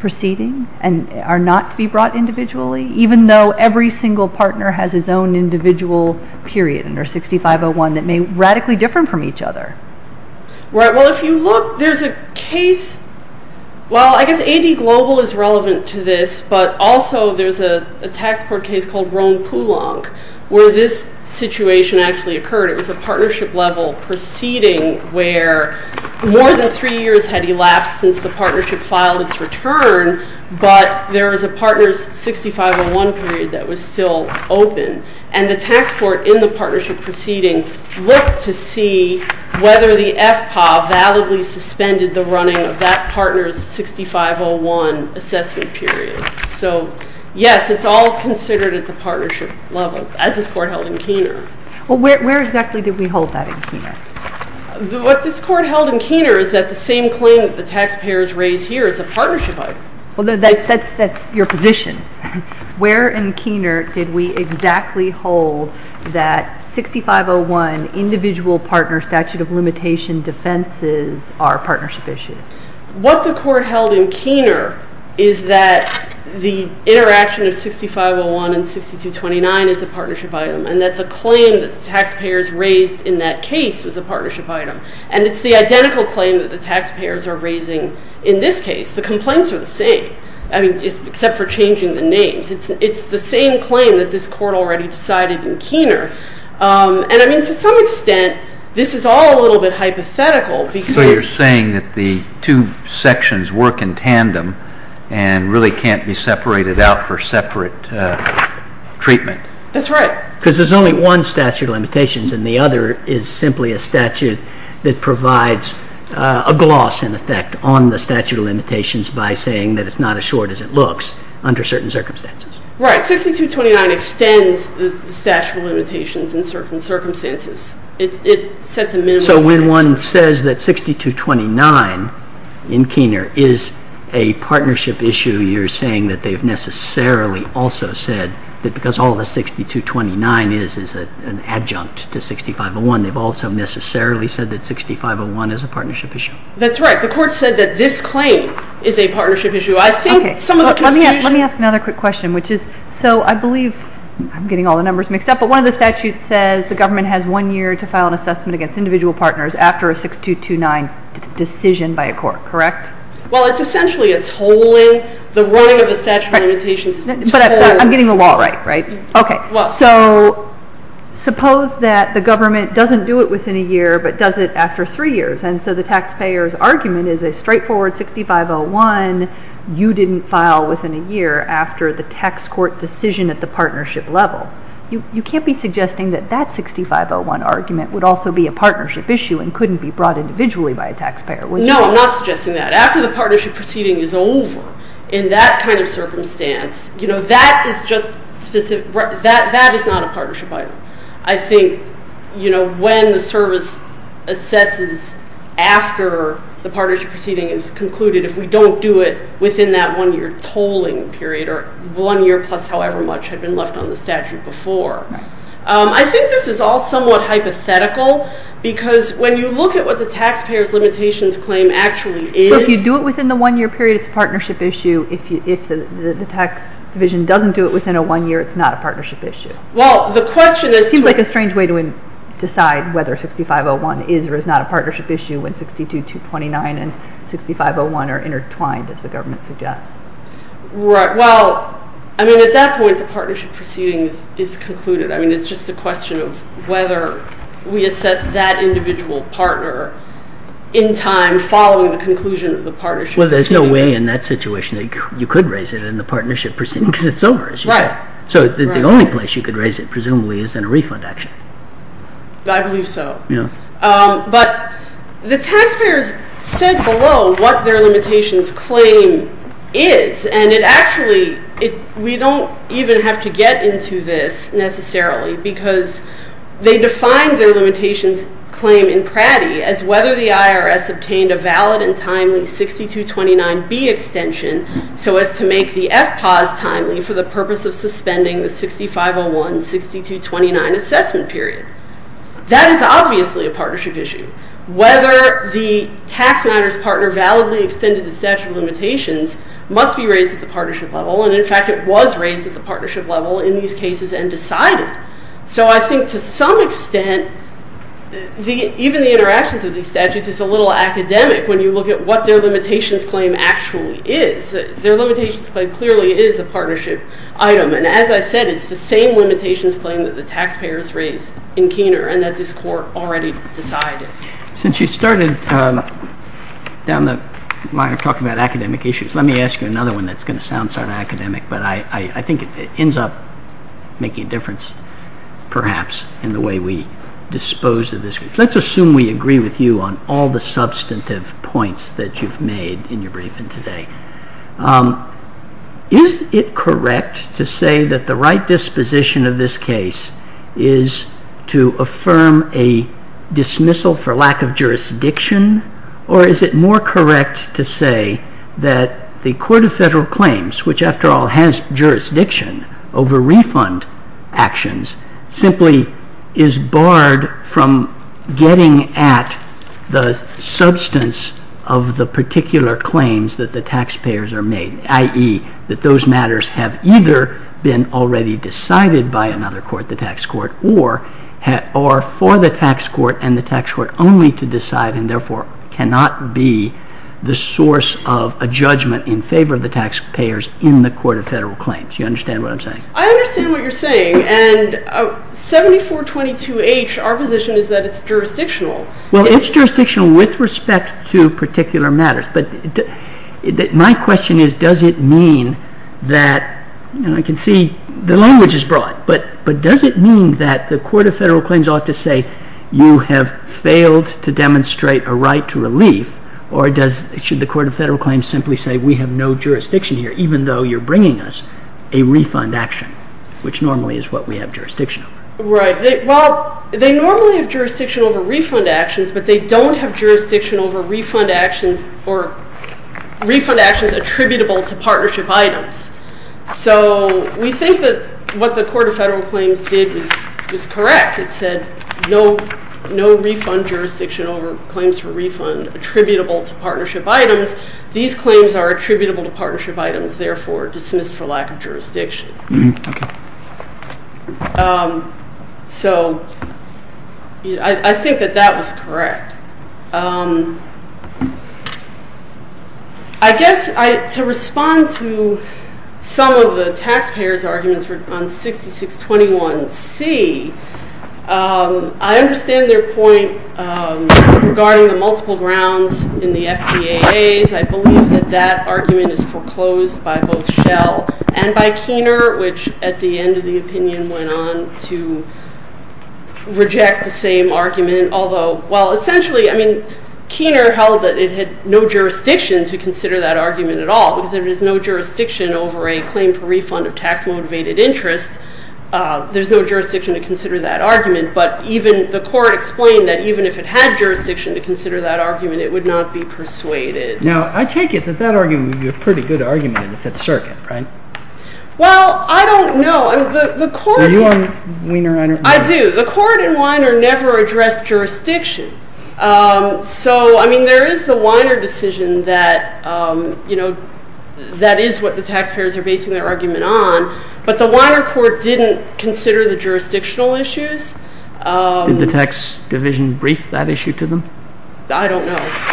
proceeding and are not to be brought individually, even though every single partner has its own individual period under 6501 that may be radically different from each other? Right. Well, if you look, there's a case. Well, I guess AD Global is relevant to this, but also there's a tax court case called Rhone-Poulenc where this situation actually occurred. It was a partnership level proceeding where more than three years had elapsed since the partnership filed its return, but there was a partner's 6501 period that was still open, and the tax court in the partnership proceeding looked to see whether the FPA validly suspended the running of that partner's 6501 assessment period. So, yes, it's all considered at the partnership level, as this court held in Keener. Well, where exactly did we hold that in Keener? What this court held in Keener is that the same claim that the taxpayers raised here is a partnership item. Well, that's your position. Where in Keener did we exactly hold that 6501 individual partner statute of limitation defenses are partnership issues? What the court held in Keener is that the interaction of 6501 and 6229 is a partnership item and that the claim that the taxpayers raised in that case was a partnership item, and it's the identical claim that the taxpayers are raising in this case. The complaints are the same, I mean, except for changing the names. It's the same claim that this court already decided in Keener, and, I mean, to some extent, this is all a little bit hypothetical because you're saying that the two sections work in tandem and really can't be separated out for separate treatment. That's right. Because there's only one statute of limitations, and the other is simply a statute that provides a gloss, in effect, on the statute of limitations by saying that it's not as short as it looks under certain circumstances. Right. 6229 extends the statute of limitations in certain circumstances. It sets a minimum limit. So when one says that 6229 in Keener is a partnership issue, you're saying that they've necessarily also said that because all the 6229 is is an adjunct to 6501, they've also necessarily said that 6501 is a partnership issue. That's right. The court said that this claim is a partnership issue. I think some of the conclusions- Okay. Let me ask another quick question, which is, so I believe I'm getting all the numbers mixed up, but one of the statutes says the government has one year to file an assessment against individual partners after a 6229 decision by a court, correct? Well, it's essentially a tolling. The wording of the statute of limitations is tolling. But I'm getting the law right, right? Okay. So suppose that the government doesn't do it within a year but does it after three years, and so the taxpayer's argument is a straightforward 6501 you didn't file within a year after the tax court decision at the partnership level. You can't be suggesting that that 6501 argument would also be a partnership issue and couldn't be brought individually by a taxpayer, would you? No, I'm not suggesting that. After the partnership proceeding is over, in that kind of circumstance, that is not a partnership item. I think when the service assesses after the partnership proceeding is concluded, if we don't do it within that one-year tolling period or one year plus however much had been left on the statute before. I think this is all somewhat hypothetical because when you look at what the taxpayer's limitations claim actually is. If you do it within the one-year period, it's a partnership issue. If the tax division doesn't do it within a one year, it's not a partnership issue. Well, the question is. It seems like a strange way to decide whether 6501 is or is not a partnership issue when 62-229 and 6501 are intertwined, as the government suggests. Right. Well, I mean, at that point, the partnership proceeding is concluded. I mean, it's just a question of whether we assess that individual partner in time following the conclusion of the partnership proceeding. Well, there's no way in that situation that you could raise it in the partnership proceeding because it's over, as you say. Right. So the only place you could raise it, presumably, is in a refund action. I believe so. Yeah. But the taxpayers said below what their limitations claim is, and it actually, we don't even have to get into this necessarily because they defined their limitations claim in Pratty as whether the IRS obtained a valid and timely 62-29B extension so as to make the FPAWS timely for the purpose of suspending the 6501-62-29 assessment period. That is obviously a partnership issue. Whether the tax matters partner validly extended the statute of limitations must be raised at the partnership level, and, in fact, it was raised at the partnership level in these cases and decided. So I think to some extent, even the interactions of these statutes, it's a little academic when you look at what their limitations claim actually is. Their limitations claim clearly is a partnership item, and as I said, it's the same limitations claim that the taxpayers raised in Keener and that this Court already decided. Since you started down the line talking about academic issues, let me ask you another one that's going to sound sort of academic, but I think it ends up making a difference perhaps in the way we dispose of this case. Let's assume we agree with you on all the substantive points that you've made in your briefing today. Is it correct to say that the right disposition of this case is to affirm a dismissal for lack of jurisdiction, or is it more correct to say that the Court of Federal Claims, which after all has jurisdiction over refund actions, simply is barred from getting at the substance of the particular claims that the taxpayers are made, i.e., that those matters have either been already decided by another court, the tax court, or for the tax court and the tax court only to decide and therefore cannot be the source of a judgment in favor of the taxpayers in the Court of Federal Claims? Do you understand what I'm saying? I understand what you're saying, and 7422H, our position is that it's jurisdictional. Well, it's jurisdictional with respect to particular matters, but my question is does it mean that, and I can see the language is broad, but does it mean that the Court of Federal Claims ought to say you have failed to demonstrate a right to relief, or should the Court of Federal Claims simply say we have no jurisdiction here even though you're bringing us a refund action, which normally is what we have jurisdiction over? Right. Well, they normally have jurisdiction over refund actions, but they don't have jurisdiction over refund actions or refund actions attributable to partnership items. So we think that what the Court of Federal Claims did was correct. It said no refund jurisdiction over claims for refund attributable to partnership items. These claims are attributable to partnership items, therefore dismissed for lack of jurisdiction. Okay. So I think that that was correct. I guess to respond to some of the taxpayers' arguments on 6621C, I understand their point regarding the multiple grounds in the FBAAs. I believe that that argument is foreclosed by both Schell and by Keener, which at the end of the opinion went on to reject the same argument, although, well, essentially, I mean, Keener held that it had no jurisdiction to consider that argument at all because there is no jurisdiction over a claim for refund of tax-motivated interest. There's no jurisdiction to consider that argument, but even the Court explained that even if it had jurisdiction to consider that argument, it would not be persuaded. Now, I take it that that argument would be a pretty good argument in the Fifth Circuit, right? Well, I don't know. Are you on Weiner? I do. The court in Weiner never addressed jurisdiction. So, I mean, there is the Weiner decision that, you know, that is what the taxpayers are basing their argument on, but the Weiner Court didn't consider the jurisdictional issues. Did the tax division brief that issue to them? I don't know.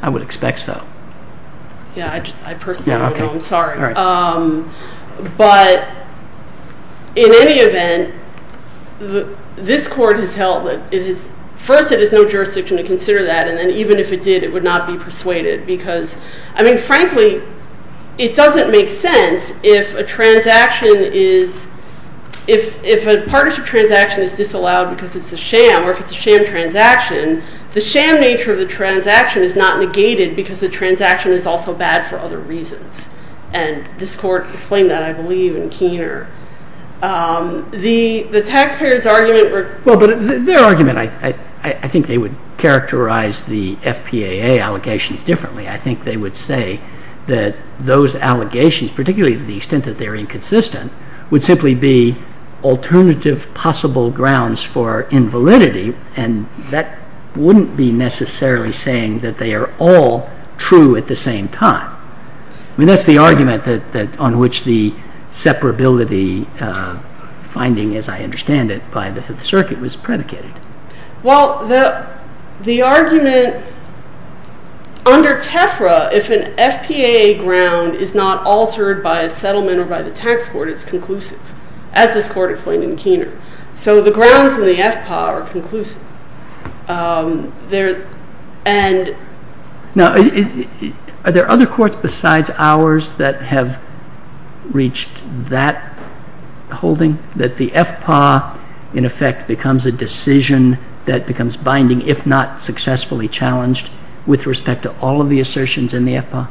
I would expect so. Yeah, I personally don't know. I'm sorry. All right. But in any event, this Court has held that it is – first, it has no jurisdiction to consider that, and then even if it did, it would not be persuaded because, I mean, frankly, it doesn't make sense if a transaction is – if a partnership transaction is disallowed because it's a sham or if it's a sham transaction, the sham nature of the transaction is not negated because the transaction is also bad for other reasons. And this Court explained that, I believe, in Keener. The taxpayers' argument – Well, but their argument – I think they would characterize the FPAA allegations differently. I think they would say that those allegations, particularly to the extent that they're inconsistent, would simply be alternative possible grounds for invalidity, and that wouldn't be necessarily saying that they are all true at the same time. I mean, that's the argument on which the separability finding, as I understand it, by the Fifth Circuit was predicated. Well, the argument – under TEFRA, if an FPAA ground is not altered by a settlement or by the tax court, it's conclusive, as this Court explained in Keener. So the grounds in the FPAA are conclusive. Now, are there other courts besides ours that have reached that holding, that the FPAA, in effect, becomes a decision that becomes binding, if not successfully challenged with respect to all of the assertions in the FPAA?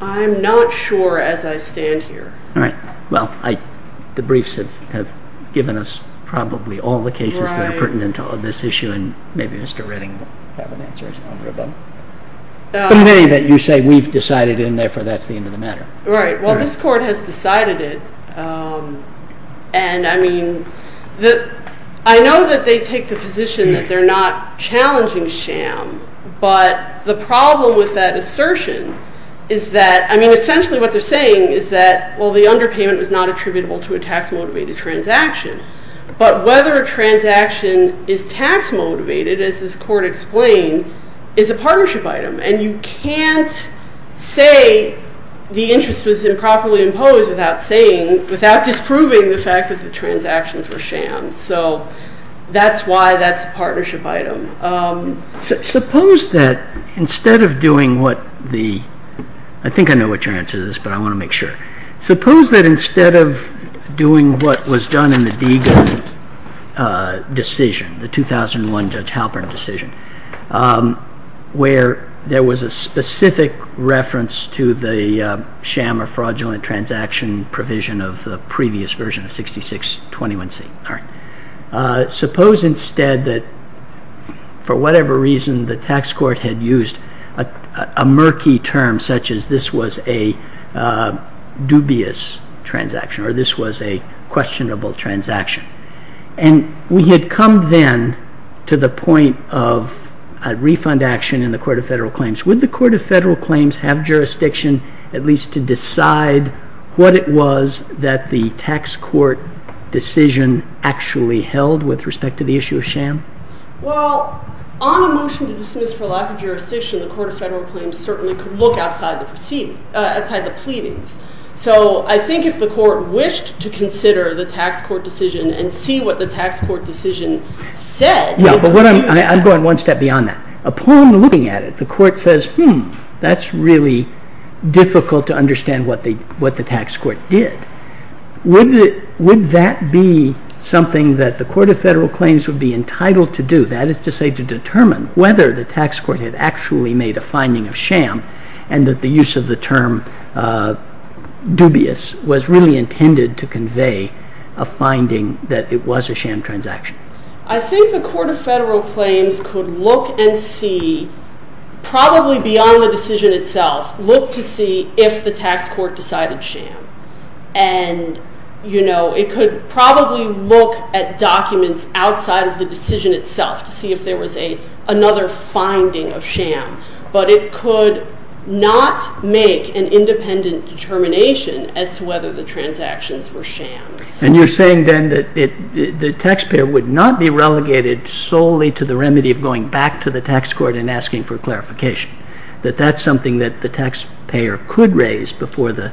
I'm not sure as I stand here. All right. Well, the briefs have given us probably all the cases that are pertinent to this issue, and maybe Mr. Redding will have an answer as well. But in any event, you say we've decided, and therefore that's the end of the matter. Right. Well, this Court has decided it, and I mean, I know that they take the position that they're not challenging sham, but the problem with that assertion is that – I mean, essentially what they're saying is that, well, the underpayment was not attributable to a tax-motivated transaction, but whether a transaction is tax-motivated, as this Court explained, is a partnership item, and you can't say the interest was improperly imposed without saying – So that's why that's a partnership item. Suppose that instead of doing what the – I think I know what your answer to this, but I want to make sure. Suppose that instead of doing what was done in the Deagon decision, the 2001 Judge Halpern decision, where there was a specific reference to the sham or fraudulent transaction provision of the previous version of 6621C. Suppose instead that for whatever reason the tax court had used a murky term such as this was a dubious transaction or this was a questionable transaction, and we had come then to the point of a refund action in the Court of Federal Claims. Would the Court of Federal Claims have jurisdiction at least to decide what it was that the tax court decision actually held with respect to the issue of sham? Well, on a motion to dismiss for lack of jurisdiction, the Court of Federal Claims certainly could look outside the proceedings – outside the pleadings. So I think if the Court wished to consider the tax court decision and see what the tax court decision said – Yeah, but what I'm – I'm going one step beyond that. Upon looking at it, the court says, hmm, that's really difficult to understand what the tax court did. Would that be something that the Court of Federal Claims would be entitled to do? That is to say, to determine whether the tax court had actually made a finding of sham and that the use of the term dubious was really intended to convey a finding that it was a sham transaction. I think the Court of Federal Claims could look and see – probably beyond the decision itself – look to see if the tax court decided sham. And, you know, it could probably look at documents outside of the decision itself to see if there was another finding of sham. But it could not make an independent determination as to whether the transactions were shams. And you're saying then that the taxpayer would not be relegated solely to the remedy of going back to the tax court and asking for clarification. That that's something that the taxpayer could raise before the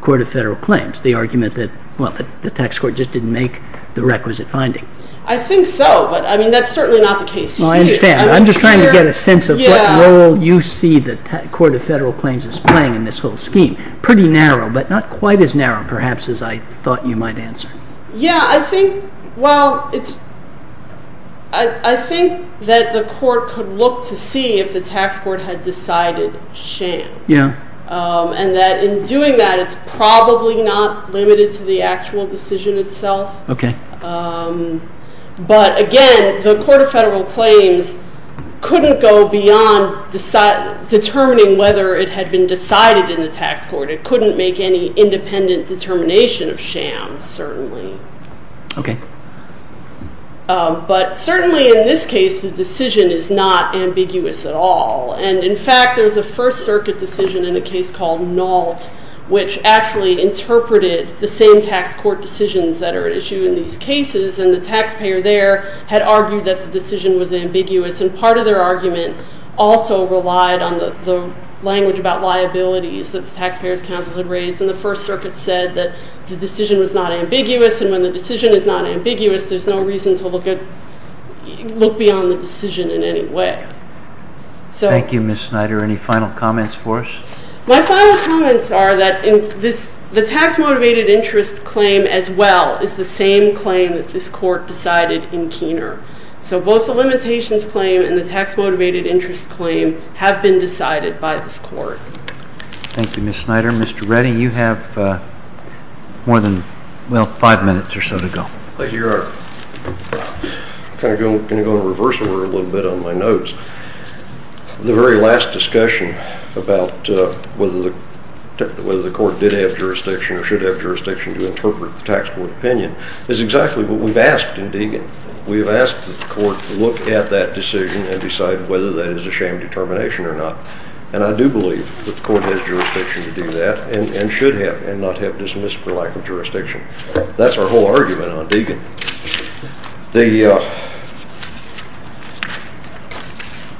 Court of Federal Claims, the argument that, well, the tax court just didn't make the requisite finding. I think so, but, I mean, that's certainly not the case. I understand. I'm just trying to get a sense of what role you see the Court of Federal Claims is playing in this whole scheme. Pretty narrow, but not quite as narrow, perhaps, as I thought you might answer. Yeah, I think, well, I think that the Court could look to see if the tax court had decided sham. Yeah. And that in doing that, it's probably not limited to the actual decision itself. Okay. But, again, the Court of Federal Claims couldn't go beyond determining whether it had been decided in the tax court. It couldn't make any independent determination of sham, certainly. Okay. But, certainly in this case, the decision is not ambiguous at all. And, in fact, there's a First Circuit decision in a case called Nault, which actually interpreted the same tax court decisions that are at issue in these cases, and the taxpayer there had argued that the decision was ambiguous, and part of their argument also relied on the language about liabilities that the Taxpayers' Council had raised. And the First Circuit said that the decision was not ambiguous, and when the decision is not ambiguous, there's no reason to look beyond the decision in any way. Thank you, Ms. Snyder. Any final comments for us? My final comments are that the tax-motivated interest claim as well is the same claim that this court decided in Keener. So both the limitations claim and the tax-motivated interest claim have been decided by this court. Thank you, Ms. Snyder. Mr. Redding, you have more than, well, five minutes or so to go. Thank you, Your Honor. I'm going to go in reverse order a little bit on my notes. The very last discussion about whether the court did have jurisdiction or should have jurisdiction to interpret the tax court opinion is exactly what we've asked in Deegan. We have asked that the court look at that decision and decide whether that is a shame determination or not, and I do believe that the court has jurisdiction to do that and should have and not have dismissed for lack of jurisdiction. That's our whole argument on Deegan.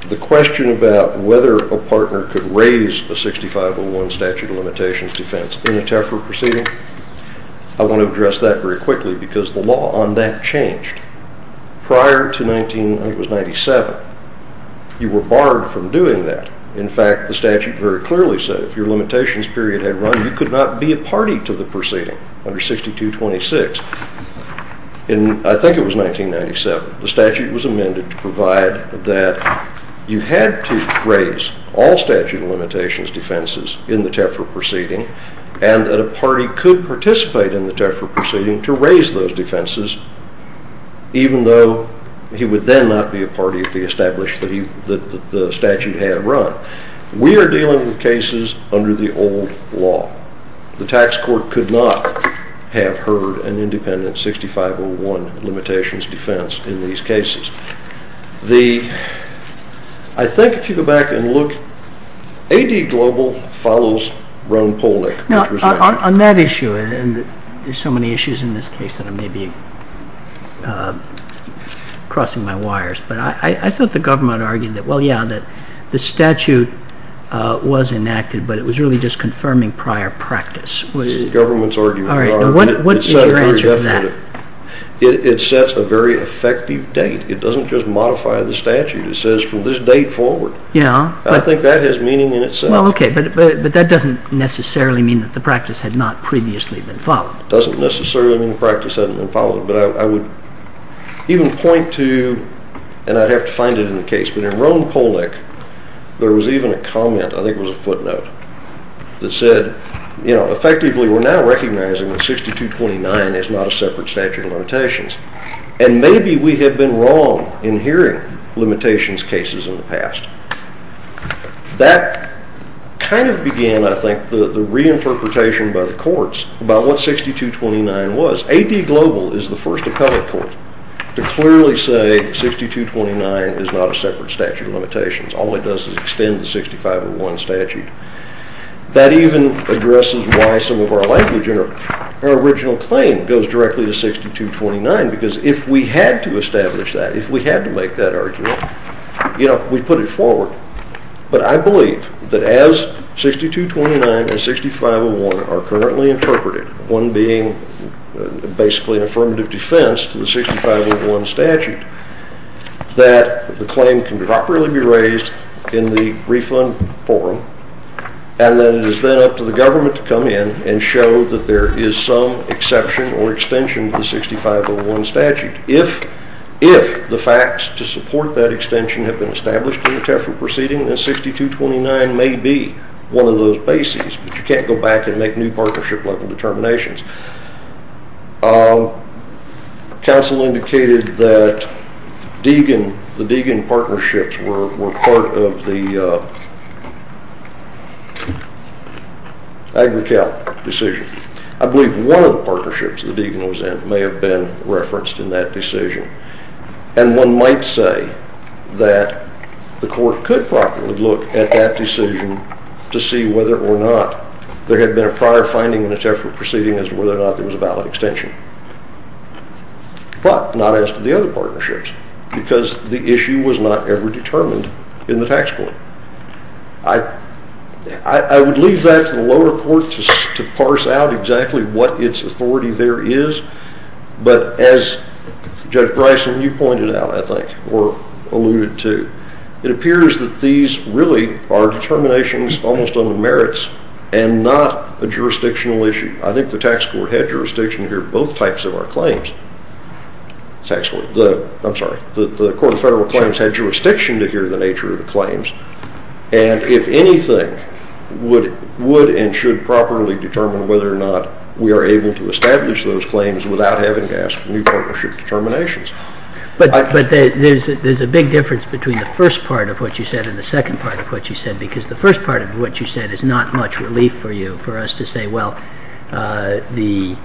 The question about whether a partner could raise a 6501 statute of limitations defense in a TAFRA proceeding, I want to address that very quickly because the law on that changed. Prior to 1997, you were barred from doing that. In fact, the statute very clearly said if your limitations period had run, you could not be a party to the proceeding under 6226. I think it was 1997. The statute was amended to provide that you had to raise all statute of limitations defenses in the TAFRA proceeding and that a party could participate in the TAFRA proceeding to raise those defenses, even though he would then not be a party if he established that the statute had run. We are dealing with cases under the old law. The tax court could not have heard an independent 6501 limitations defense in these cases. I think if you go back and look, AD Global follows Roan Polnick. On that issue, and there's so many issues in this case that I may be crossing my wires, but I thought the government argued that, well, yeah, the statute was enacted, but it was really just confirming prior practice. It's the government's argument. What is your answer to that? It sets a very effective date. It doesn't just modify the statute. It says from this date forward. I think that has meaning in itself. Okay, but that doesn't necessarily mean that the practice had not previously been followed. It doesn't necessarily mean the practice hadn't been followed, but I would even point to, and I'd have to find it in the case, but in Roan Polnick, there was even a comment, I think it was a footnote, that said effectively we're now recognizing that 6229 is not a separate statute of limitations, and maybe we have been wrong in hearing limitations cases in the past. That kind of began, I think, the reinterpretation by the courts about what 6229 was. AD Global is the first appellate court to clearly say 6229 is not a separate statute of limitations. All it does is extend the 6501 statute. That even addresses why some of our language in our original claim goes directly to 6229, because if we had to establish that, if we had to make that argument, we'd put it forward. But I believe that as 6229 and 6501 are currently interpreted, one being basically an affirmative defense to the 6501 statute, that the claim can properly be raised in the refund forum, and then it is then up to the government to come in and show that there is some exception or extension to the 6501 statute. If the facts to support that extension have been established in the TEFRA proceeding, then 6229 may be one of those bases, but you can't go back and make new partnership-level determinations. Counsel indicated that the Deegan partnerships were part of the AgriCal decision. I believe one of the partnerships that Deegan was in may have been referenced in that decision, and one might say that the court could properly look at that decision to see whether or not there had been a prior finding in the TEFRA proceeding as to whether or not there was a valid extension, but not as to the other partnerships, because the issue was not ever determined in the tax court. I would leave that to the lower court to parse out exactly what its authority there is, but as Judge Bryson, you pointed out, I think, or alluded to, it appears that these really are determinations almost on the merits and not a jurisdictional issue. I think the tax court had jurisdiction to hear both types of our claims. I'm sorry, the Court of Federal Claims had jurisdiction to hear the nature of the claims, and if anything, would and should properly determine whether or not we are able to establish those claims without having to ask for new partnership determinations. But there's a big difference between the first part of what you said and the second part of what you said, because the first part of what you said is not much relief for you, for us to say, well, the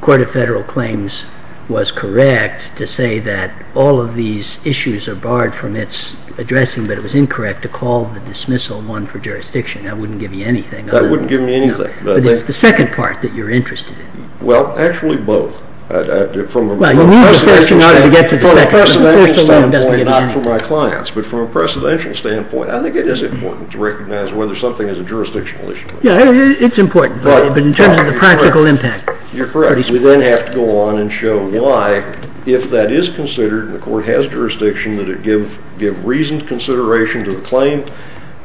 Court of Federal Claims was correct to say that all of these issues are barred from its addressing, but it was incorrect to call the dismissal one for jurisdiction. That wouldn't give you anything. That wouldn't give me anything. But it's the second part that you're interested in. Well, actually, both. Well, you need the first one in order to get to the second. From a precedential standpoint, not for my clients, but from a precedential standpoint, I think it is important to recognize whether something is a jurisdictional issue. Yeah, it's important, but in terms of the practical impact. You're correct. We then have to go on and show why, if that is considered and the court has jurisdiction, that it give reasoned consideration to the claim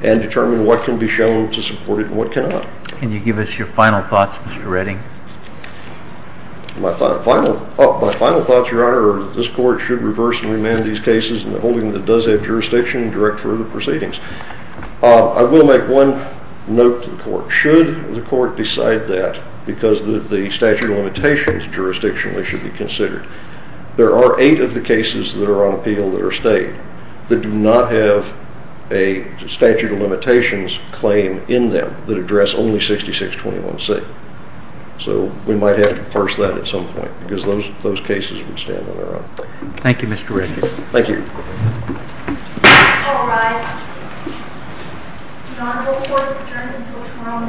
and determine what can be shown to support it and what cannot. Can you give us your final thoughts, Mr. Redding? My final thoughts, Your Honor, are that this court should reverse and remand these cases in the holding that does have jurisdiction and direct further proceedings. I will make one note to the court. Should the court decide that because the statute of limitations jurisdictionally should be considered, there are eight of the cases that are on appeal that are stayed that do not have a statute of limitations claim in them that address only 6621C. So we might have to parse that at some point because those cases would stand on their own. Thank you, Mr. Redding. Thank you. All rise. Your Honor, the court is adjourned until tomorrow morning at 10 o'clock.